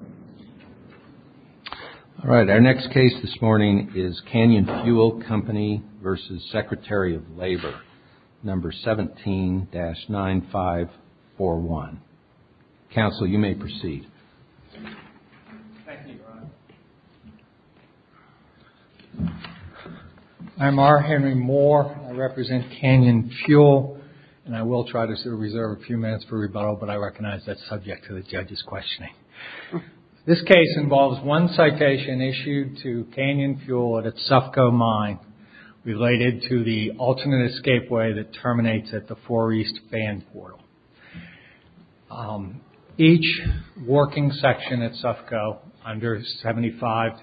All right, our next case this morning is Canyon Fuel Company v. Secretary of Labor, No. 17-9541. Counsel, you may proceed. Thank you, Your Honor. I'm R. Henry Moore. I represent Canyon Fuel. And I will try to reserve a few minutes for rebuttal, but I recognize that's subject to the judge's questioning. This case involves one citation issued to Canyon Fuel at a Sufco mine related to the alternate escapeway that terminates at the 4 East Band Portal. Each working section at Sufco under 75-380,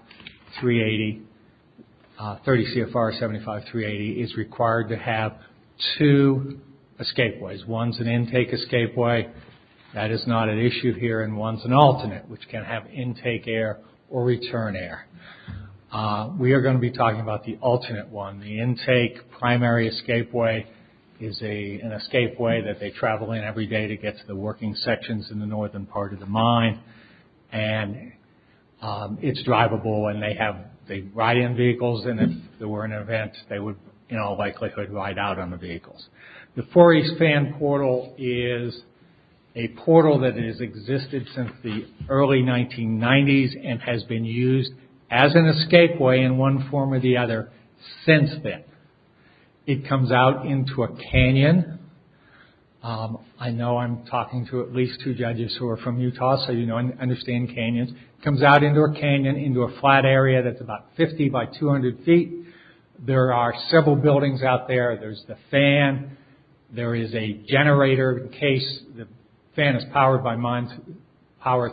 30 CFR 75-380, is required to have two escapeways. One's an intake escapeway, that is not an issue here, and one's an alternate, which can have intake air or return air. We are going to be talking about the alternate one. The intake primary escapeway is an escapeway that they travel in every day to get to the working sections in the northern part of the mine. And it's drivable, and they ride in vehicles, and if there were an event, they would, in all likelihood, ride out on the vehicles. The 4 East Band Portal is a portal that has existed since the early 1990s and has been used as an escapeway in one form or the other since then. It comes out into a canyon. I know I'm talking to at least two judges who are from Utah, so you know and understand canyons. It comes out into a canyon, into a flat area that's about 50 by 200 feet. There are several buildings out there. There's the fan. There is a generator in case the fan is powered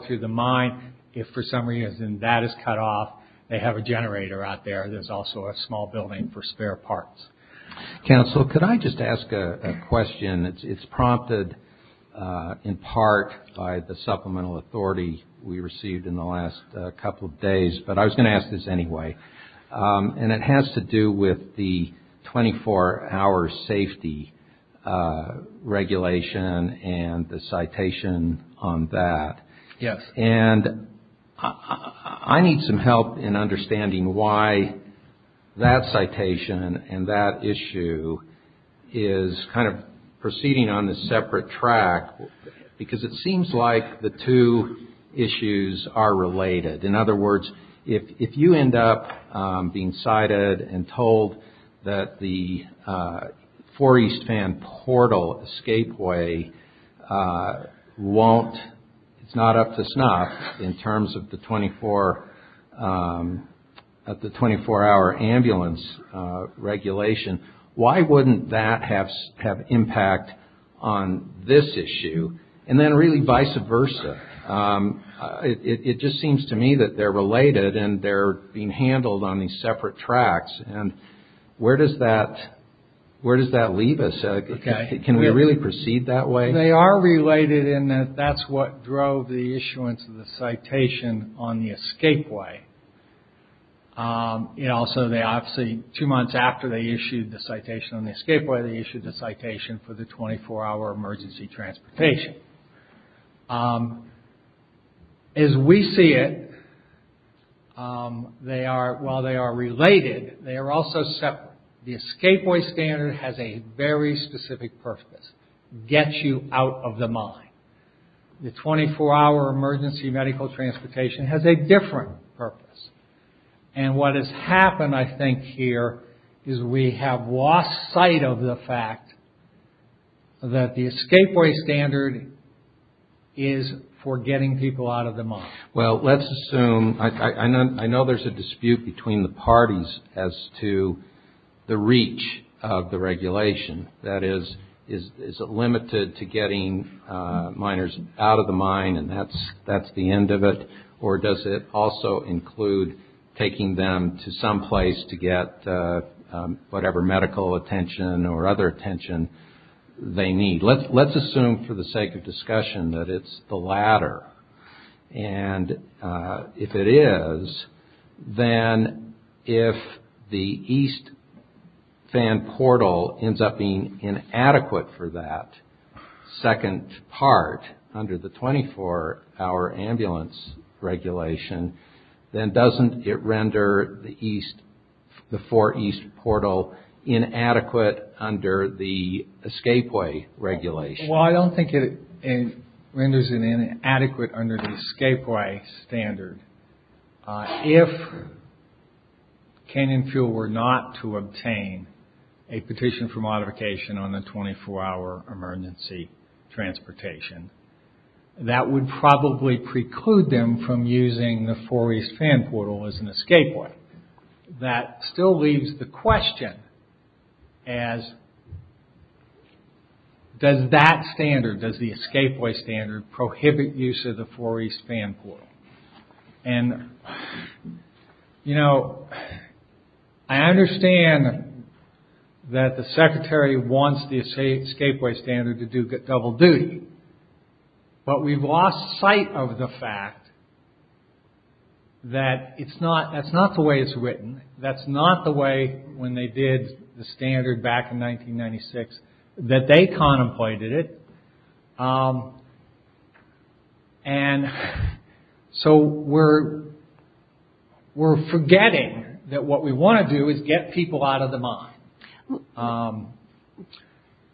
through the mine. If, for some reason, that is cut off, they have a generator out there. There's also a small building for spare parts. Counsel, could I just ask a question? It's prompted in part by the supplemental authority we received in the last couple of days, but I was going to ask this anyway. It has to do with the 24-hour safety regulation and the citation on that. Yes. I need some help in understanding why that citation and that issue is kind of proceeding on a separate track because it seems like the two issues are related. In other words, if you end up being cited and told that the four-east fan portal escapeway won't, it's not up to snuff in terms of the 24-hour ambulance regulation, why wouldn't that have impact on this issue and then really vice versa? It just seems to me that they're related and they're being handled on these separate tracks. Where does that leave us? Can we really proceed that way? They are related in that that's what drove the issuance of the citation on the escapeway. Also, two months after they issued the citation on the escapeway, they issued the citation for the 24-hour emergency transportation. As we see it, while they are related, they are also separate. The escapeway standard has a very specific purpose, get you out of the mine. The 24-hour emergency medical transportation has a different purpose. And what has happened, I think, here is we have lost sight of the fact that the escapeway standard is for getting people out of the mine. Well, let's assume, I know there's a dispute between the parties as to the reach of the regulation. That is, is it limited to getting miners out of the mine and that's the end of it? Or does it also include taking them to some place to get whatever medical attention or other attention they need? Let's assume for the sake of discussion that it's the latter. And if it is, then if the east fan portal ends up being inadequate for that second part under the 24-hour ambulance regulation, then doesn't it render the east, the four east portal inadequate under the escapeway regulation? Well, I don't think it renders it inadequate under the escapeway standard. If Canyon Fuel were not to obtain a petition for modification on the 24-hour emergency transportation, that would probably preclude them from using the four east fan portal as an escapeway. That still leaves the question as, does that standard, does the escapeway standard prohibit use of the four east fan portal? And, you know, I understand that the secretary wants the escapeway standard to do double duty. But we've lost sight of the fact that it's not, that's not the way it's written. That's not the way when they did the standard back in 1996 that they contemplated it. And so we're, we're forgetting that what we want to do is get people out of the mine.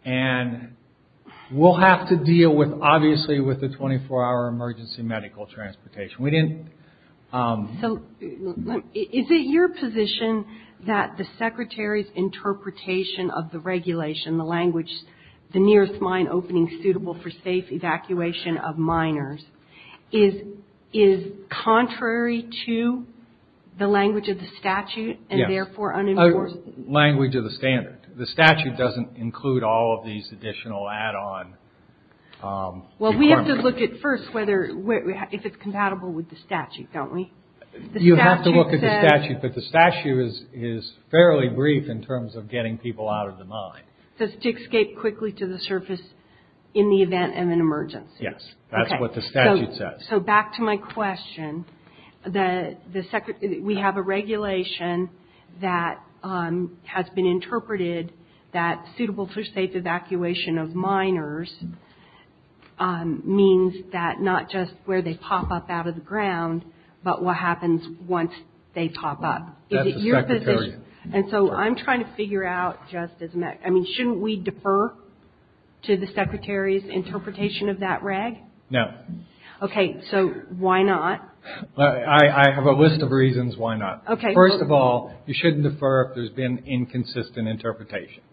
And we'll have to deal with, obviously, with the 24-hour emergency medical transportation. We didn't. So is it your position that the secretary's interpretation of the regulation, the language, the nearest mine opening suitable for safe evacuation of miners, is contrary to the language of the statute and therefore unenforced? Language of the standard. The statute doesn't include all of these additional add-on. Well, we have to look at first whether, if it's compatible with the statute, don't we? You have to look at the statute, but the statute is fairly brief in terms of getting people out of the mine. So it's to escape quickly to the surface in the event of an emergency. Yes. Okay. That's what the statute says. So back to my question, we have a regulation that has been interpreted that suitable for safe evacuation of miners means that not just where they pop up out of the ground, but what happens once they pop up. Is it your position? That's the secretary. And so I'm trying to figure out just as much. I mean, shouldn't we defer to the secretary's interpretation of that reg? No. Okay. So why not? I have a list of reasons why not. Okay. First of all, you shouldn't defer if there's been inconsistent interpretation.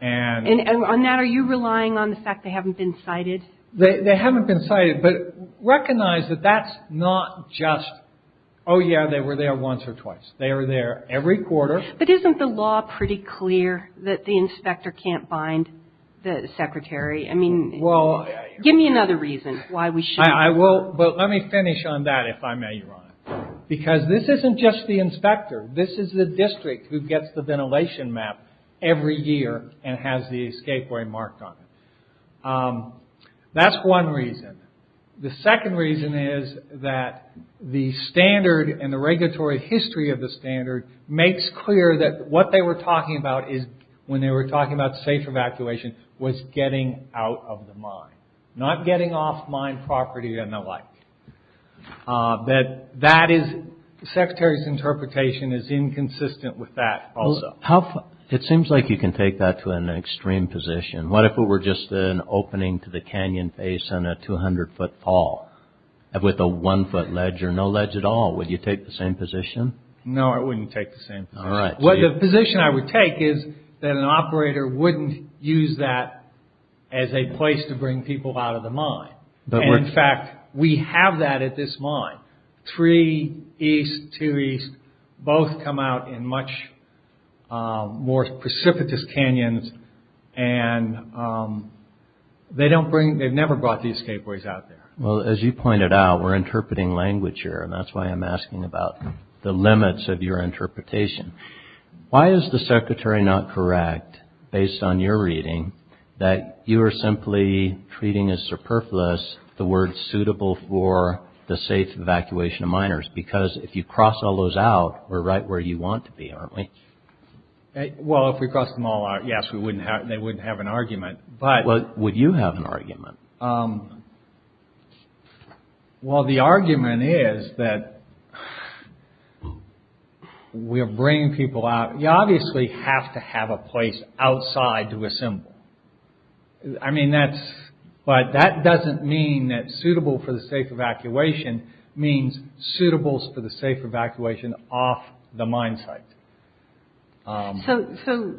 And on that, are you relying on the fact they haven't been cited? They haven't been cited. But recognize that that's not just, oh, yeah, they were there once or twice. They were there every quarter. But isn't the law pretty clear that the inspector can't bind the secretary? I mean, give me another reason why we shouldn't. I will. But let me finish on that, if I may, Your Honor. Because this isn't just the inspector. This is the district who gets the ventilation map every year and has the escape way marked on it. That's one reason. The second reason is that the standard and the regulatory history of the standard makes clear that what they were talking about is, when they were talking about safe evacuation, was getting out of the mine, not getting off mine property and the like. That is, the secretary's interpretation is inconsistent with that also. It seems like you can take that to an extreme position. What if it were just an opening to the canyon face and a 200-foot fall with a one-foot ledge or no ledge at all? Would you take the same position? No, I wouldn't take the same position. All right. Well, the position I would take is that an operator wouldn't use that as a place to bring people out of the mine. In fact, we have that at this mine. Three east, two east, both come out in much more precipitous canyons, and they've never brought the escape ways out there. Well, as you pointed out, we're interpreting language here, and that's why I'm asking about the limits of your interpretation. Why is the secretary not correct, based on your reading, that you are simply treating as superfluous the word suitable for the safe evacuation of miners? Because if you cross all those out, we're right where you want to be, aren't we? Well, if we crossed them all out, yes, they wouldn't have an argument. Would you have an argument? Well, the argument is that we're bringing people out. You obviously have to have a place outside to assemble. But that doesn't mean that suitable for the safe evacuation means suitable for the safe evacuation off the mine site. So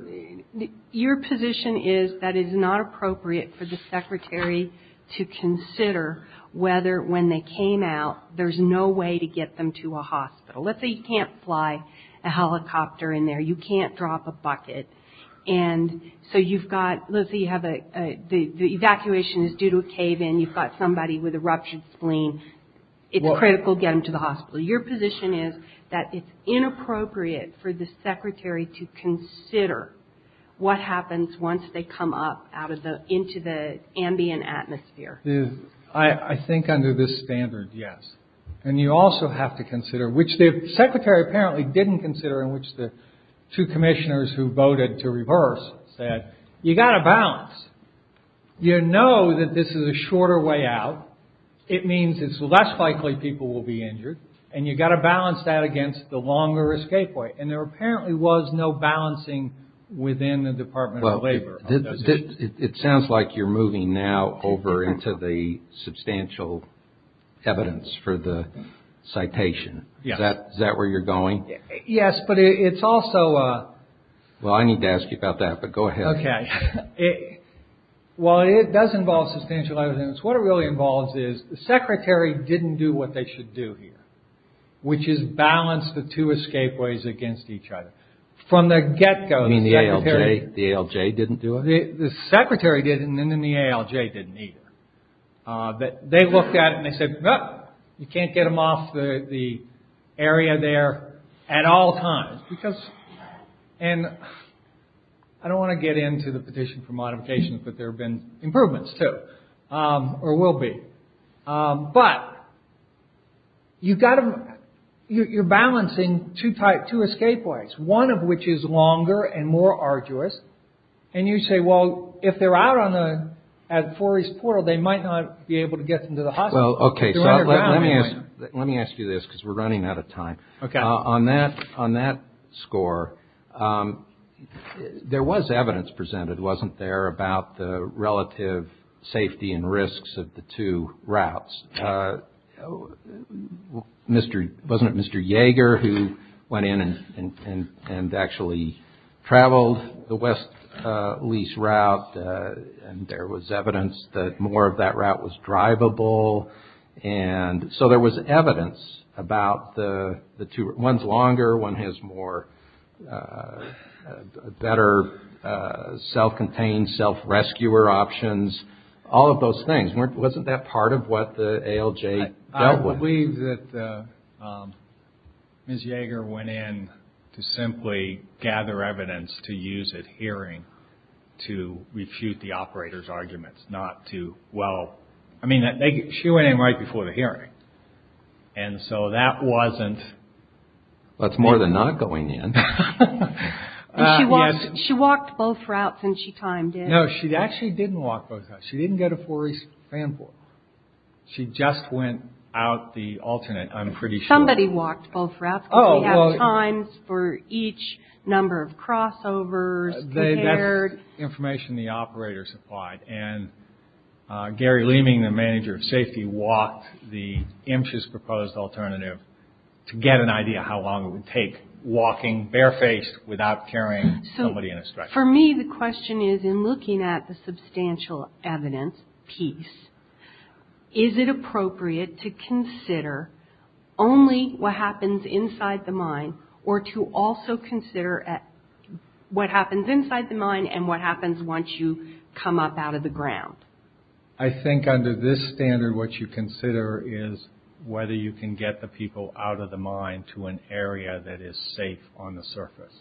your position is that it's not appropriate for the secretary to consider whether, when they came out, there's no way to get them to a hospital. Let's say you can't fly a helicopter in there. You can't drop a bucket. And so you've got, let's say you have a, the evacuation is due to a cave-in. You've got somebody with a ruptured spleen. It's critical to get them to the hospital. Your position is that it's inappropriate for the secretary to consider what happens once they come up out of the, into the ambient atmosphere. I think under this standard, yes. And you also have to consider, which the secretary apparently didn't consider, in which the two commissioners who voted to reverse said, you've got to balance. You know that this is a shorter way out. It means it's less likely people will be injured. And you've got to balance that against the longer escape way. And there apparently was no balancing within the Department of Labor on those issues. It sounds like you're moving now over into the substantial evidence for the citation. Yes. Is that where you're going? Yes, but it's also a... Well, I need to ask you about that, but go ahead. Okay. Well, it does involve substantial evidence. What it really involves is the secretary didn't do what they should do here, which is balance the two escape ways against each other. From the get-go, the secretary... You mean the ALJ didn't do it? The secretary didn't, and then the ALJ didn't either. They looked at it and they said, no, you can't get them off the area there at all times. And I don't want to get into the petition for modification, but there have been improvements too, or will be. But you've got to... You're balancing two escape ways, one of which is longer and more arduous. And you say, well, if they're out at Four East Portal, they might not be able to get them to the hospital. Well, okay. Let me ask you this, because we're running out of time. Okay. On that score, there was evidence presented, wasn't there, about the relative safety and risks of the two routes. Wasn't it Mr. Yeager who went in and actually traveled the west lease route, and there was evidence that more of that route was drivable? And so there was evidence about the two routes. One's longer, one has more better self-contained, self-rescuer options. All of those things. Wasn't that part of what the ALJ dealt with? I believe that Ms. Yeager went in to simply gather evidence to use at hearing to refute the operator's arguments. I mean, she went in right before the hearing. And so that wasn't. That's more than not going in. She walked both routes, and she timed in. No, she actually didn't walk both routes. She didn't go to Four East Fan Portal. She just went out the alternate, I'm pretty sure. Somebody walked both routes. Because we have times for each number of crossovers compared. That's information the operators applied. And Gary Leeming, the manager of safety, walked the IMSHA's proposed alternative to get an idea how long it would take, walking barefaced without carrying somebody in a stretcher. For me, the question is, in looking at the substantial evidence piece, or to also consider what happens inside the mine and what happens once you come up out of the ground? I think under this standard, what you consider is whether you can get the people out of the mine to an area that is safe on the surface.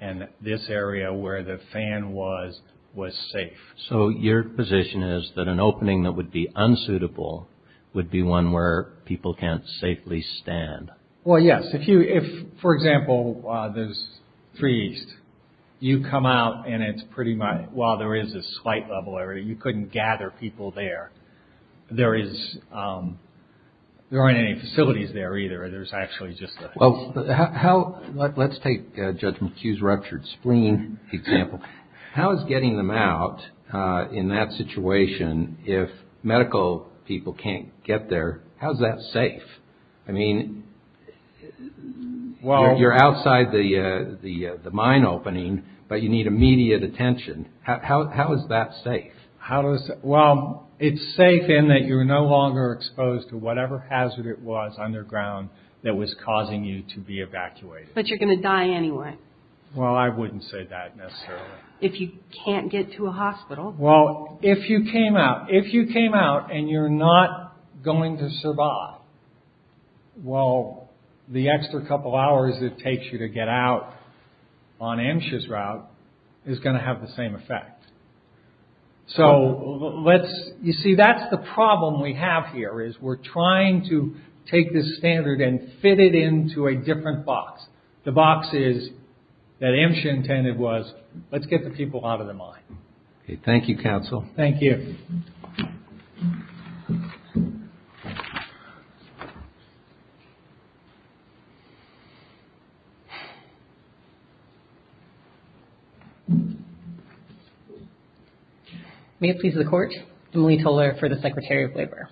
And this area where the fan was, was safe. So your position is that an opening that would be unsuitable would be one where people can't safely stand? Well, yes. If, for example, there's Three East. You come out and it's pretty much, while there is a slight level area, you couldn't gather people there. There is, there aren't any facilities there either. There's actually just a... Well, how, let's take Judge McHugh's ruptured spleen example. How is getting them out in that situation, if medical people can't get there, how is that safe? I mean, you're outside the mine opening, but you need immediate attention. How is that safe? Well, it's safe in that you're no longer exposed to whatever hazard it was underground that was causing you to be evacuated. But you're going to die anyway. Well, I wouldn't say that necessarily. If you can't get to a hospital. Well, if you came out, if you came out and you're not going to survive, well, the extra couple hours it takes you to get out on MSHA's route is going to have the same effect. So, let's, you see, that's the problem we have here, is we're trying to take this standard and fit it into a different box. The box is, that MSHA intended was, let's get the people out of the mine. Okay, thank you, Counsel. Thank you. May it please the Court, Emily Toler for the Secretary of Labor.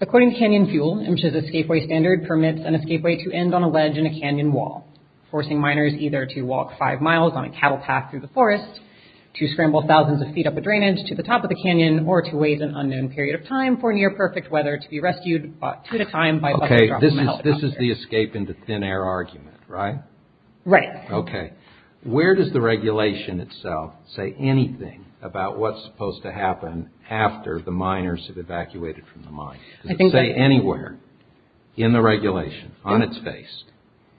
According to Canyon Fuel, MSHA's escapeway standard permits an escapeway to end on a ledge in a canyon wall, forcing miners either to walk five miles on a cattle path through the forest, to scramble thousands of feet up a drainage to the top of the canyon, or to waste an unknown period of time for near-perfect weather to be rescued two at a time by bus or drop of metal. Okay, this is the escape into thin air argument, right? Right. Okay. Where does the regulation itself say anything about what's supposed to happen after the miners have evacuated from the mine? Does it say anywhere in the regulation, on its face?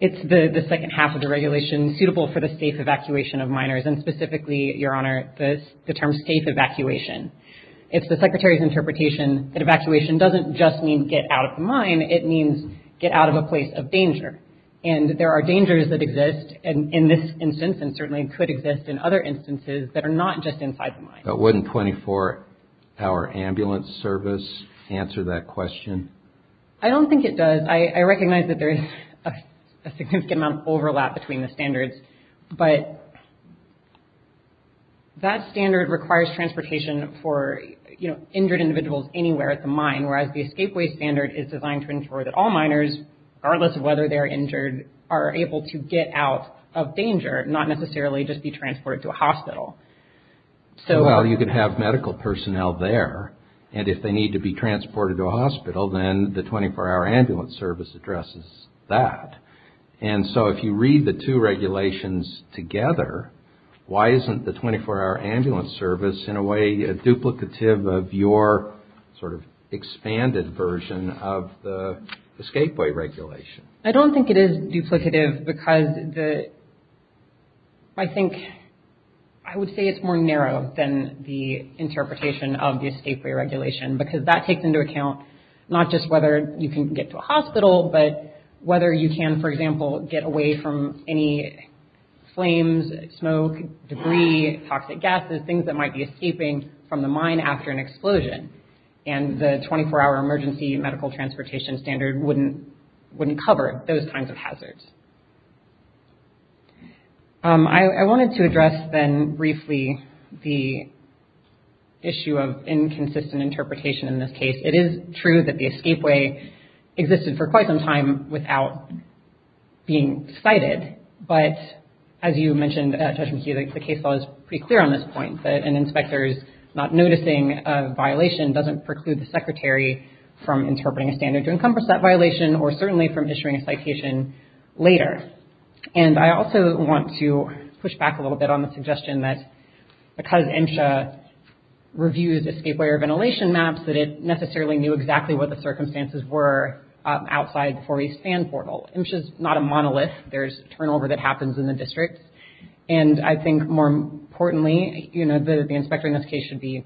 It's the second half of the regulation suitable for the safe evacuation of miners, and specifically, Your Honor, the term safe evacuation. It's the Secretary's interpretation that evacuation doesn't just mean get out of the mine. It means get out of a place of danger. And there are dangers that exist in this instance, and certainly could exist in other instances that are not just inside the mine. But wouldn't 24-hour ambulance service answer that question? I don't think it does. I recognize that there is a significant amount of overlap between the standards, but that standard requires transportation for injured individuals anywhere at the mine, whereas the escape way standard is designed to ensure that all miners, regardless of whether they're injured, are able to get out of danger, not necessarily just be transported to a hospital. Well, you could have medical personnel there, and if they need to be transported to a hospital, then the 24-hour ambulance service addresses that. And so if you read the two regulations together, why isn't the 24-hour ambulance service in a way duplicative of your sort of expanded version of the escape way regulation? I don't think it is duplicative because I think I would say it's more narrow than the interpretation of the escape way regulation, because that takes into account not just whether you can get to a hospital, but whether you can, for example, get away from any flames, smoke, debris, toxic gases, things that might be escaping from the mine after an explosion. And the 24-hour emergency medical transportation standard wouldn't cover those kinds of hazards. I wanted to address then briefly the issue of inconsistent interpretation in this case. It is true that the escape way existed for quite some time without being cited, but as you mentioned, Judge McKee, the case law is pretty clear on this point, that an inspector's not noticing a violation doesn't preclude the secretary from interpreting a standard or certainly from issuing a citation later. And I also want to push back a little bit on the suggestion that because MSHA reviews escape way or ventilation maps, that it necessarily knew exactly what the circumstances were outside for a span portal. MSHA's not a monolith. There's turnover that happens in the district. And I think more importantly, you know, the inspector in this case should be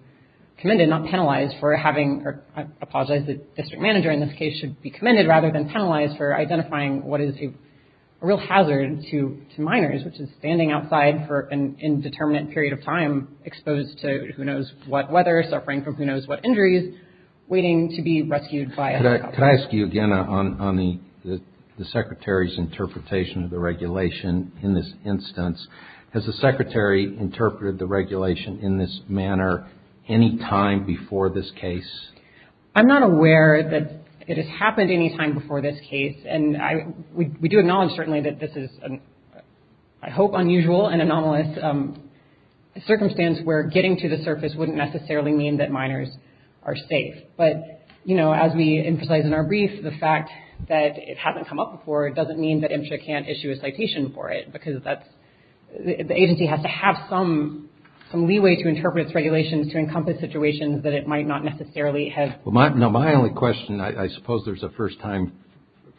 commended, not penalized for having, I apologize, the district manager in this case should be commended rather than penalized for identifying what is a real hazard to miners, which is standing outside for an indeterminate period of time exposed to who knows what weather, suffering from who knows what injuries, waiting to be rescued by a helicopter. Can I ask you again on the secretary's interpretation of the regulation in this instance? Has the secretary interpreted the regulation in this manner any time before this case? I'm not aware that it has happened any time before this case. And we do acknowledge certainly that this is, I hope, unusual and anomalous circumstance where getting to the surface wouldn't necessarily mean that miners are safe. But, you know, as we emphasized in our brief, the fact that it hasn't come up before doesn't mean that MSHA can't issue a citation for it because that's, the agency has to have some leeway to interpret its regulations to encompass situations that it might not necessarily have. Well, my only question, I suppose there's a first time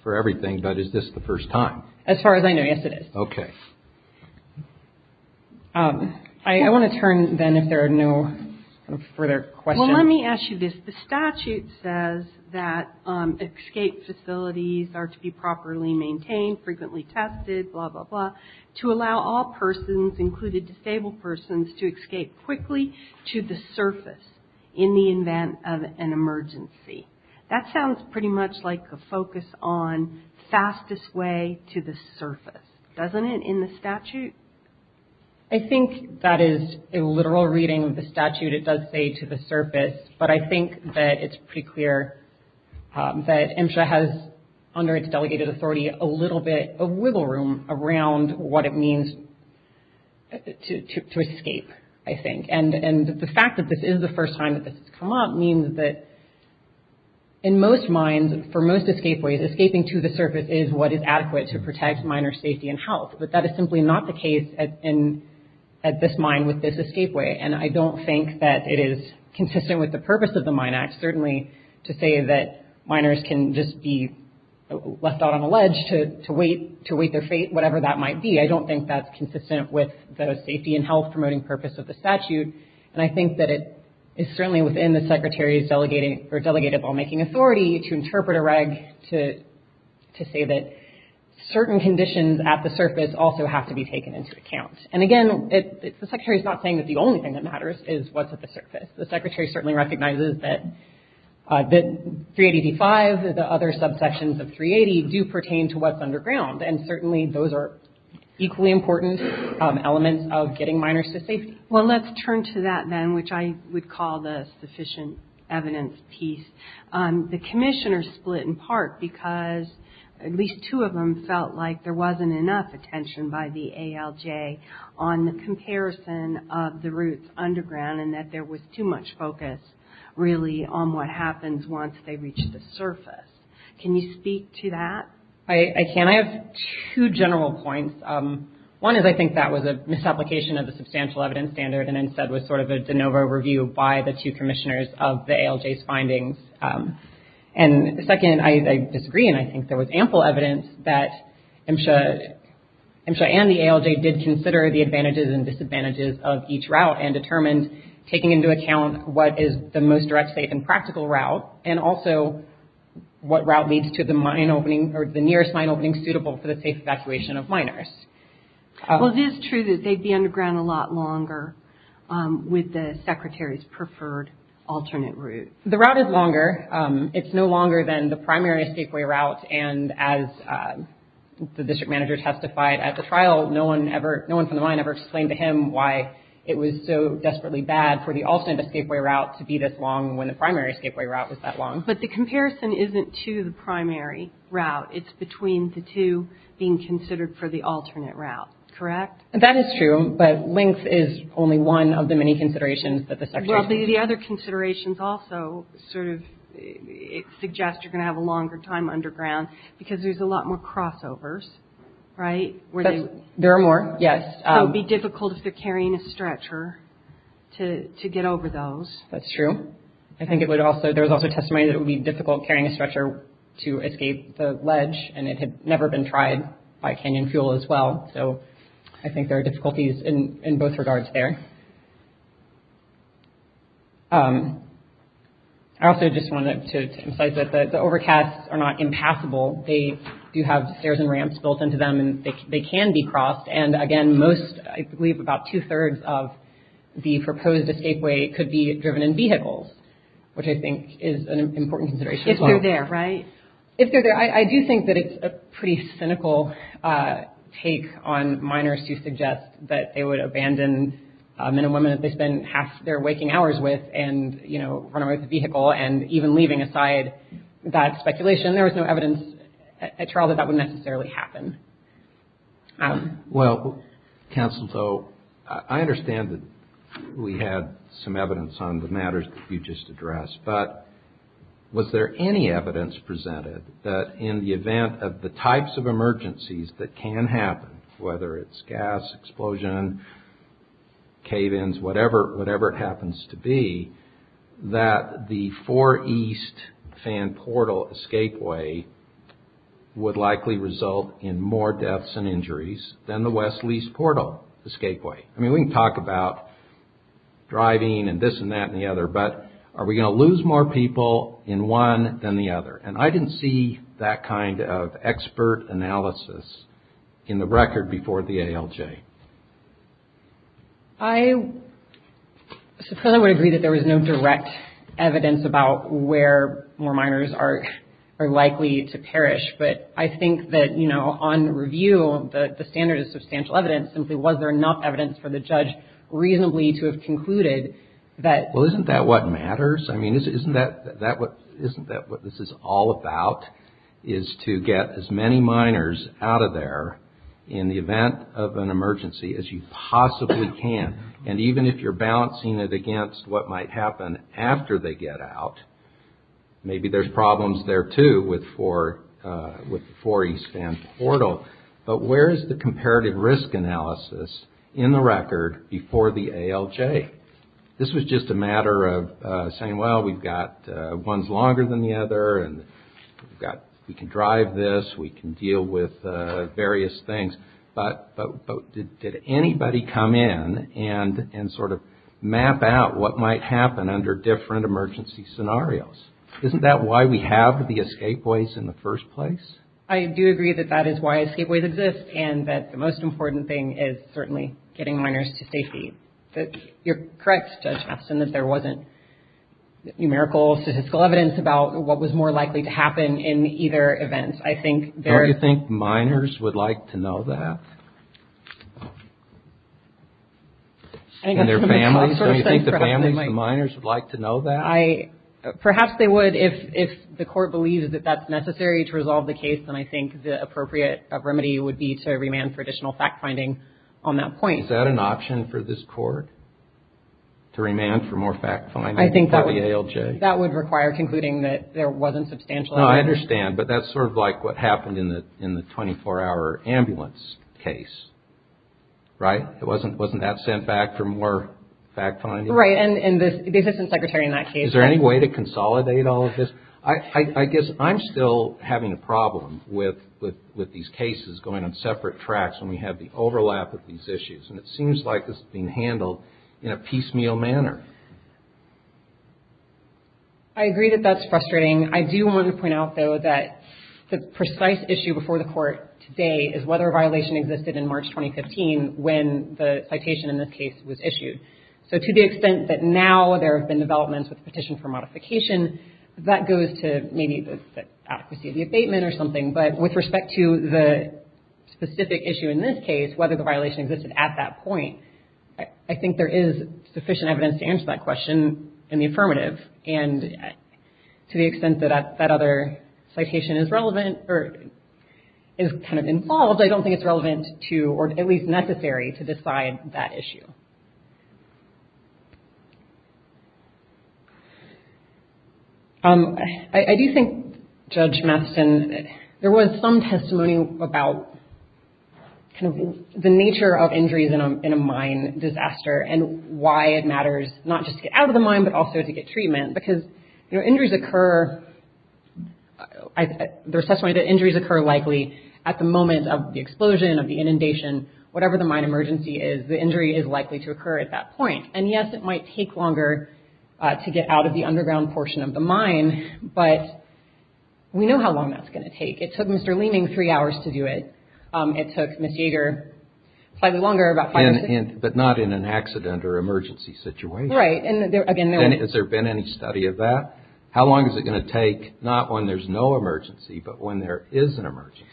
for everything, but is this the first time? As far as I know, yes, it is. Okay. I want to turn then if there are no further questions. Well, let me ask you this. The statute says that escape facilities are to be properly maintained, frequently tested, blah, blah, blah, to allow all persons, including disabled persons, to escape quickly to the surface in the event of an emergency. That sounds pretty much like a focus on fastest way to the surface, doesn't it, in the statute? I think that is a literal reading of the statute. It does say to the surface, but I think that it's pretty clear that MSHA has, under its delegated authority, a little bit of wiggle room around what it means to escape, I think. And the fact that this is the first time that this has come up means that in most mines, for most escape ways, escaping to the surface is what is adequate to protect miners' safety and health. But that is simply not the case at this mine with this escape way. And I don't think that it is consistent with the purpose of the Mine Act, certainly to say that miners can just be left out on a ledge to wait their fate, whatever that might be. I don't think that's consistent with the safety and health-promoting purpose of the statute. And I think that it is certainly within the Secretary's delegated lawmaking authority to interpret a reg to say that certain conditions at the surface also have to be taken into account. And again, the Secretary's not saying that the only thing that matters is what's at the surface. The Secretary certainly recognizes that 380D5, the other subsections of 380, do pertain to what's underground. And certainly those are equally important elements of getting miners to safety. Well, let's turn to that then, which I would call the sufficient evidence piece. The commissioners split in part because at least two of them felt like there wasn't enough attention by the ALJ on the comparison of the routes underground and that there was too much focus, really, on what happens once they reach the surface. Can you speak to that? I can. I have two general points. One is I think that was a misapplication of the substantial evidence standard and instead was sort of a de novo review by the two commissioners of the ALJ's findings. And second, I disagree and I think there was ample evidence that MSHA and the ALJ did consider the advantages and disadvantages of each route and determined taking into account what is the most direct, safe, and practical route and also what route leads to the nearest mine opening suitable for the safe evacuation of miners. Well, it is true that they'd be underground a lot longer with the Secretary's preferred alternate route. The route is longer. It's no longer than the primary escapeway route. And as the district manager testified at the trial, no one from the mine ever explained to him why it was so desperately bad for the alternate escapeway route to be this long when the primary escapeway route was that long. But the comparison isn't to the primary route. It's between the two being considered for the alternate route, correct? That is true, but length is only one of the many considerations that the Secretary... Well, the other considerations also sort of suggest you're going to have a longer time underground because there's a lot more crossovers, right? There are more, yes. So it would be difficult if they're carrying a stretcher to get over those. That's true. I think there was also testimony that it would be difficult carrying a stretcher to escape the ledge and it had never been tried by canyon fuel as well. So I think there are difficulties in both regards there. I also just wanted to emphasize that the overcasts are not impassable. They do have stairs and ramps built into them and they can be crossed. And, again, most, I believe about two-thirds of the proposed escapeway could be driven in vehicles, which I think is an important consideration as well. If they're there, right? If they're there. I do think that it's a pretty cynical take on minors to suggest that they would abandon men and women that they spend half their waking hours with and, you know, run away with the vehicle and even leaving aside that speculation. There was no evidence at trial that that would necessarily happen. Well, Counsel, so I understand that we had some evidence on the matters that you just addressed, but was there any evidence presented that in the event of the types of emergencies that can happen, whether it's gas explosion, cave-ins, whatever it happens to be, that the Four East Fan Portal escapeway would likely result in more deaths and injuries than the West Lease Portal escapeway? I mean, we can talk about driving and this and that and the other, but are we going to lose more people in one than the other? And I didn't see that kind of expert analysis in the record before the ALJ. I suppose I would agree that there was no direct evidence about where more minors are likely to perish, but I think that, you know, on review, the standard is substantial evidence. Simply was there enough evidence for the judge reasonably to have concluded that... Well, isn't that what matters? I mean, isn't that what this is all about is to get as many minors out of there in the event of an emergency as you possibly can. And even if you're balancing it against what might happen after they get out, maybe there's problems there, too, with the Four East Fan Portal. But where is the comparative risk analysis in the record before the ALJ? This was just a matter of saying, well, we've got ones longer than the other, and we can drive this, we can deal with various things, but did anybody come in and sort of map out what might happen under different emergency scenarios? Isn't that why we have the escape ways in the first place? I do agree that that is why escape ways exist, and that the most important thing is certainly getting minors to safety. You're correct, Judge Hafton, that there wasn't numerical statistical evidence about what was more likely to happen in either event. I think there... Don't you think minors would like to know that? And their families? Don't you think the families and minors would like to know that? Perhaps they would if the court believes that that's necessary to resolve the case, and I think the appropriate remedy would be to remand for additional fact-finding on that point. Is that an option for this court, to remand for more fact-finding for the ALJ? I think that would require concluding that there wasn't substantial evidence. No, I understand, but that's sort of like what happened in the 24-hour ambulance case, right? Wasn't that sent back for more fact-finding? Right, and the Assistant Secretary in that case... Is there any way to consolidate all of this? I guess I'm still having a problem with these cases going on separate tracks when we have the overlap of these issues, and it seems like this is being handled in a piecemeal manner. I agree that that's frustrating. I do want to point out, though, that the precise issue before the court today is whether a violation existed in March 2015 when the citation in this case was issued. So to the extent that now there have been developments with the petition for modification, that goes to maybe the adequacy of the abatement or something, but with respect to the specific issue in this case, whether the violation existed at that point, I think there is sufficient evidence to answer that question in the affirmative. And to the extent that that other citation is relevant or is kind of involved, I don't think it's relevant to or at least necessary to decide that issue. I do think, Judge Mastin, there was some testimony about kind of the nature of injuries in a mine disaster and why it matters not just to get out of the mine but also to get treatment, because, you know, injuries occur... There's testimony that injuries occur likely at the moment of the explosion, of the inundation, whatever the mine emergency is, the injury is likely to occur at that point. And, yes, it might take longer to get out of the underground portion of the mine, but we know how long that's going to take. It took Mr. Leeming three hours to do it. It took Ms. Yeager slightly longer, about five minutes. But not in an accident or emergency situation. Right. Has there been any study of that? How long is it going to take not when there's no emergency but when there is an emergency?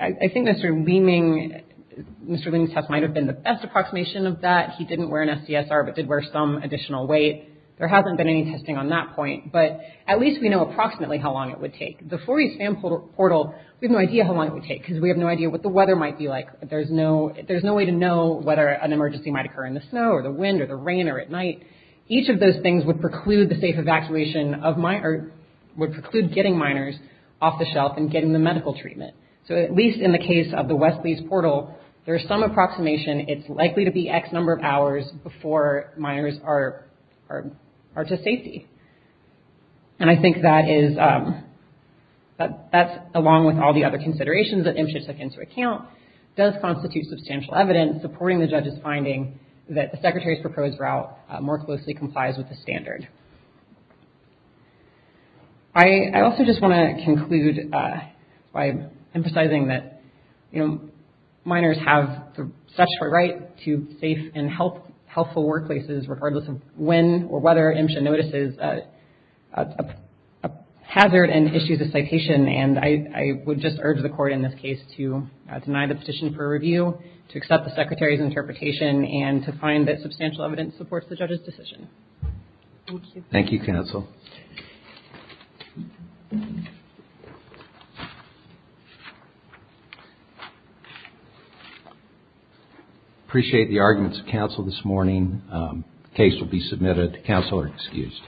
I think Mr. Leeming... Mr. Leeming's test might have been the best approximation of that. He didn't wear an SDSR but did wear some additional weight. There hasn't been any testing on that point. But at least we know approximately how long it would take. The 4E SAM portal, we have no idea how long it would take because we have no idea what the weather might be like. There's no way to know whether an emergency might occur in the snow or the wind or the rain or at night. Each of those things would preclude the safe evacuation of miners... would preclude getting miners off the shelf and getting the medical treatment. So at least in the case of the West Lees portal, there's some approximation. It's likely to be X number of hours before miners are to safety. And I think that is... that's along with all the other considerations that MSHA took into account, does constitute substantial evidence supporting the judge's finding that the Secretary's proposed route more closely complies with the standard. I also just want to conclude by emphasizing that, you know, miners have such a right to safe and health... healthful workplaces regardless of when or whether MSHA notices a hazard and issues a citation. And I would just urge the court in this case to deny the petition for review, to accept the Secretary's interpretation, and to find that substantial evidence supports the judge's decision. Thank you. Thank you, counsel. Appreciate the arguments of counsel this morning. The case will be submitted. Counsel are excused.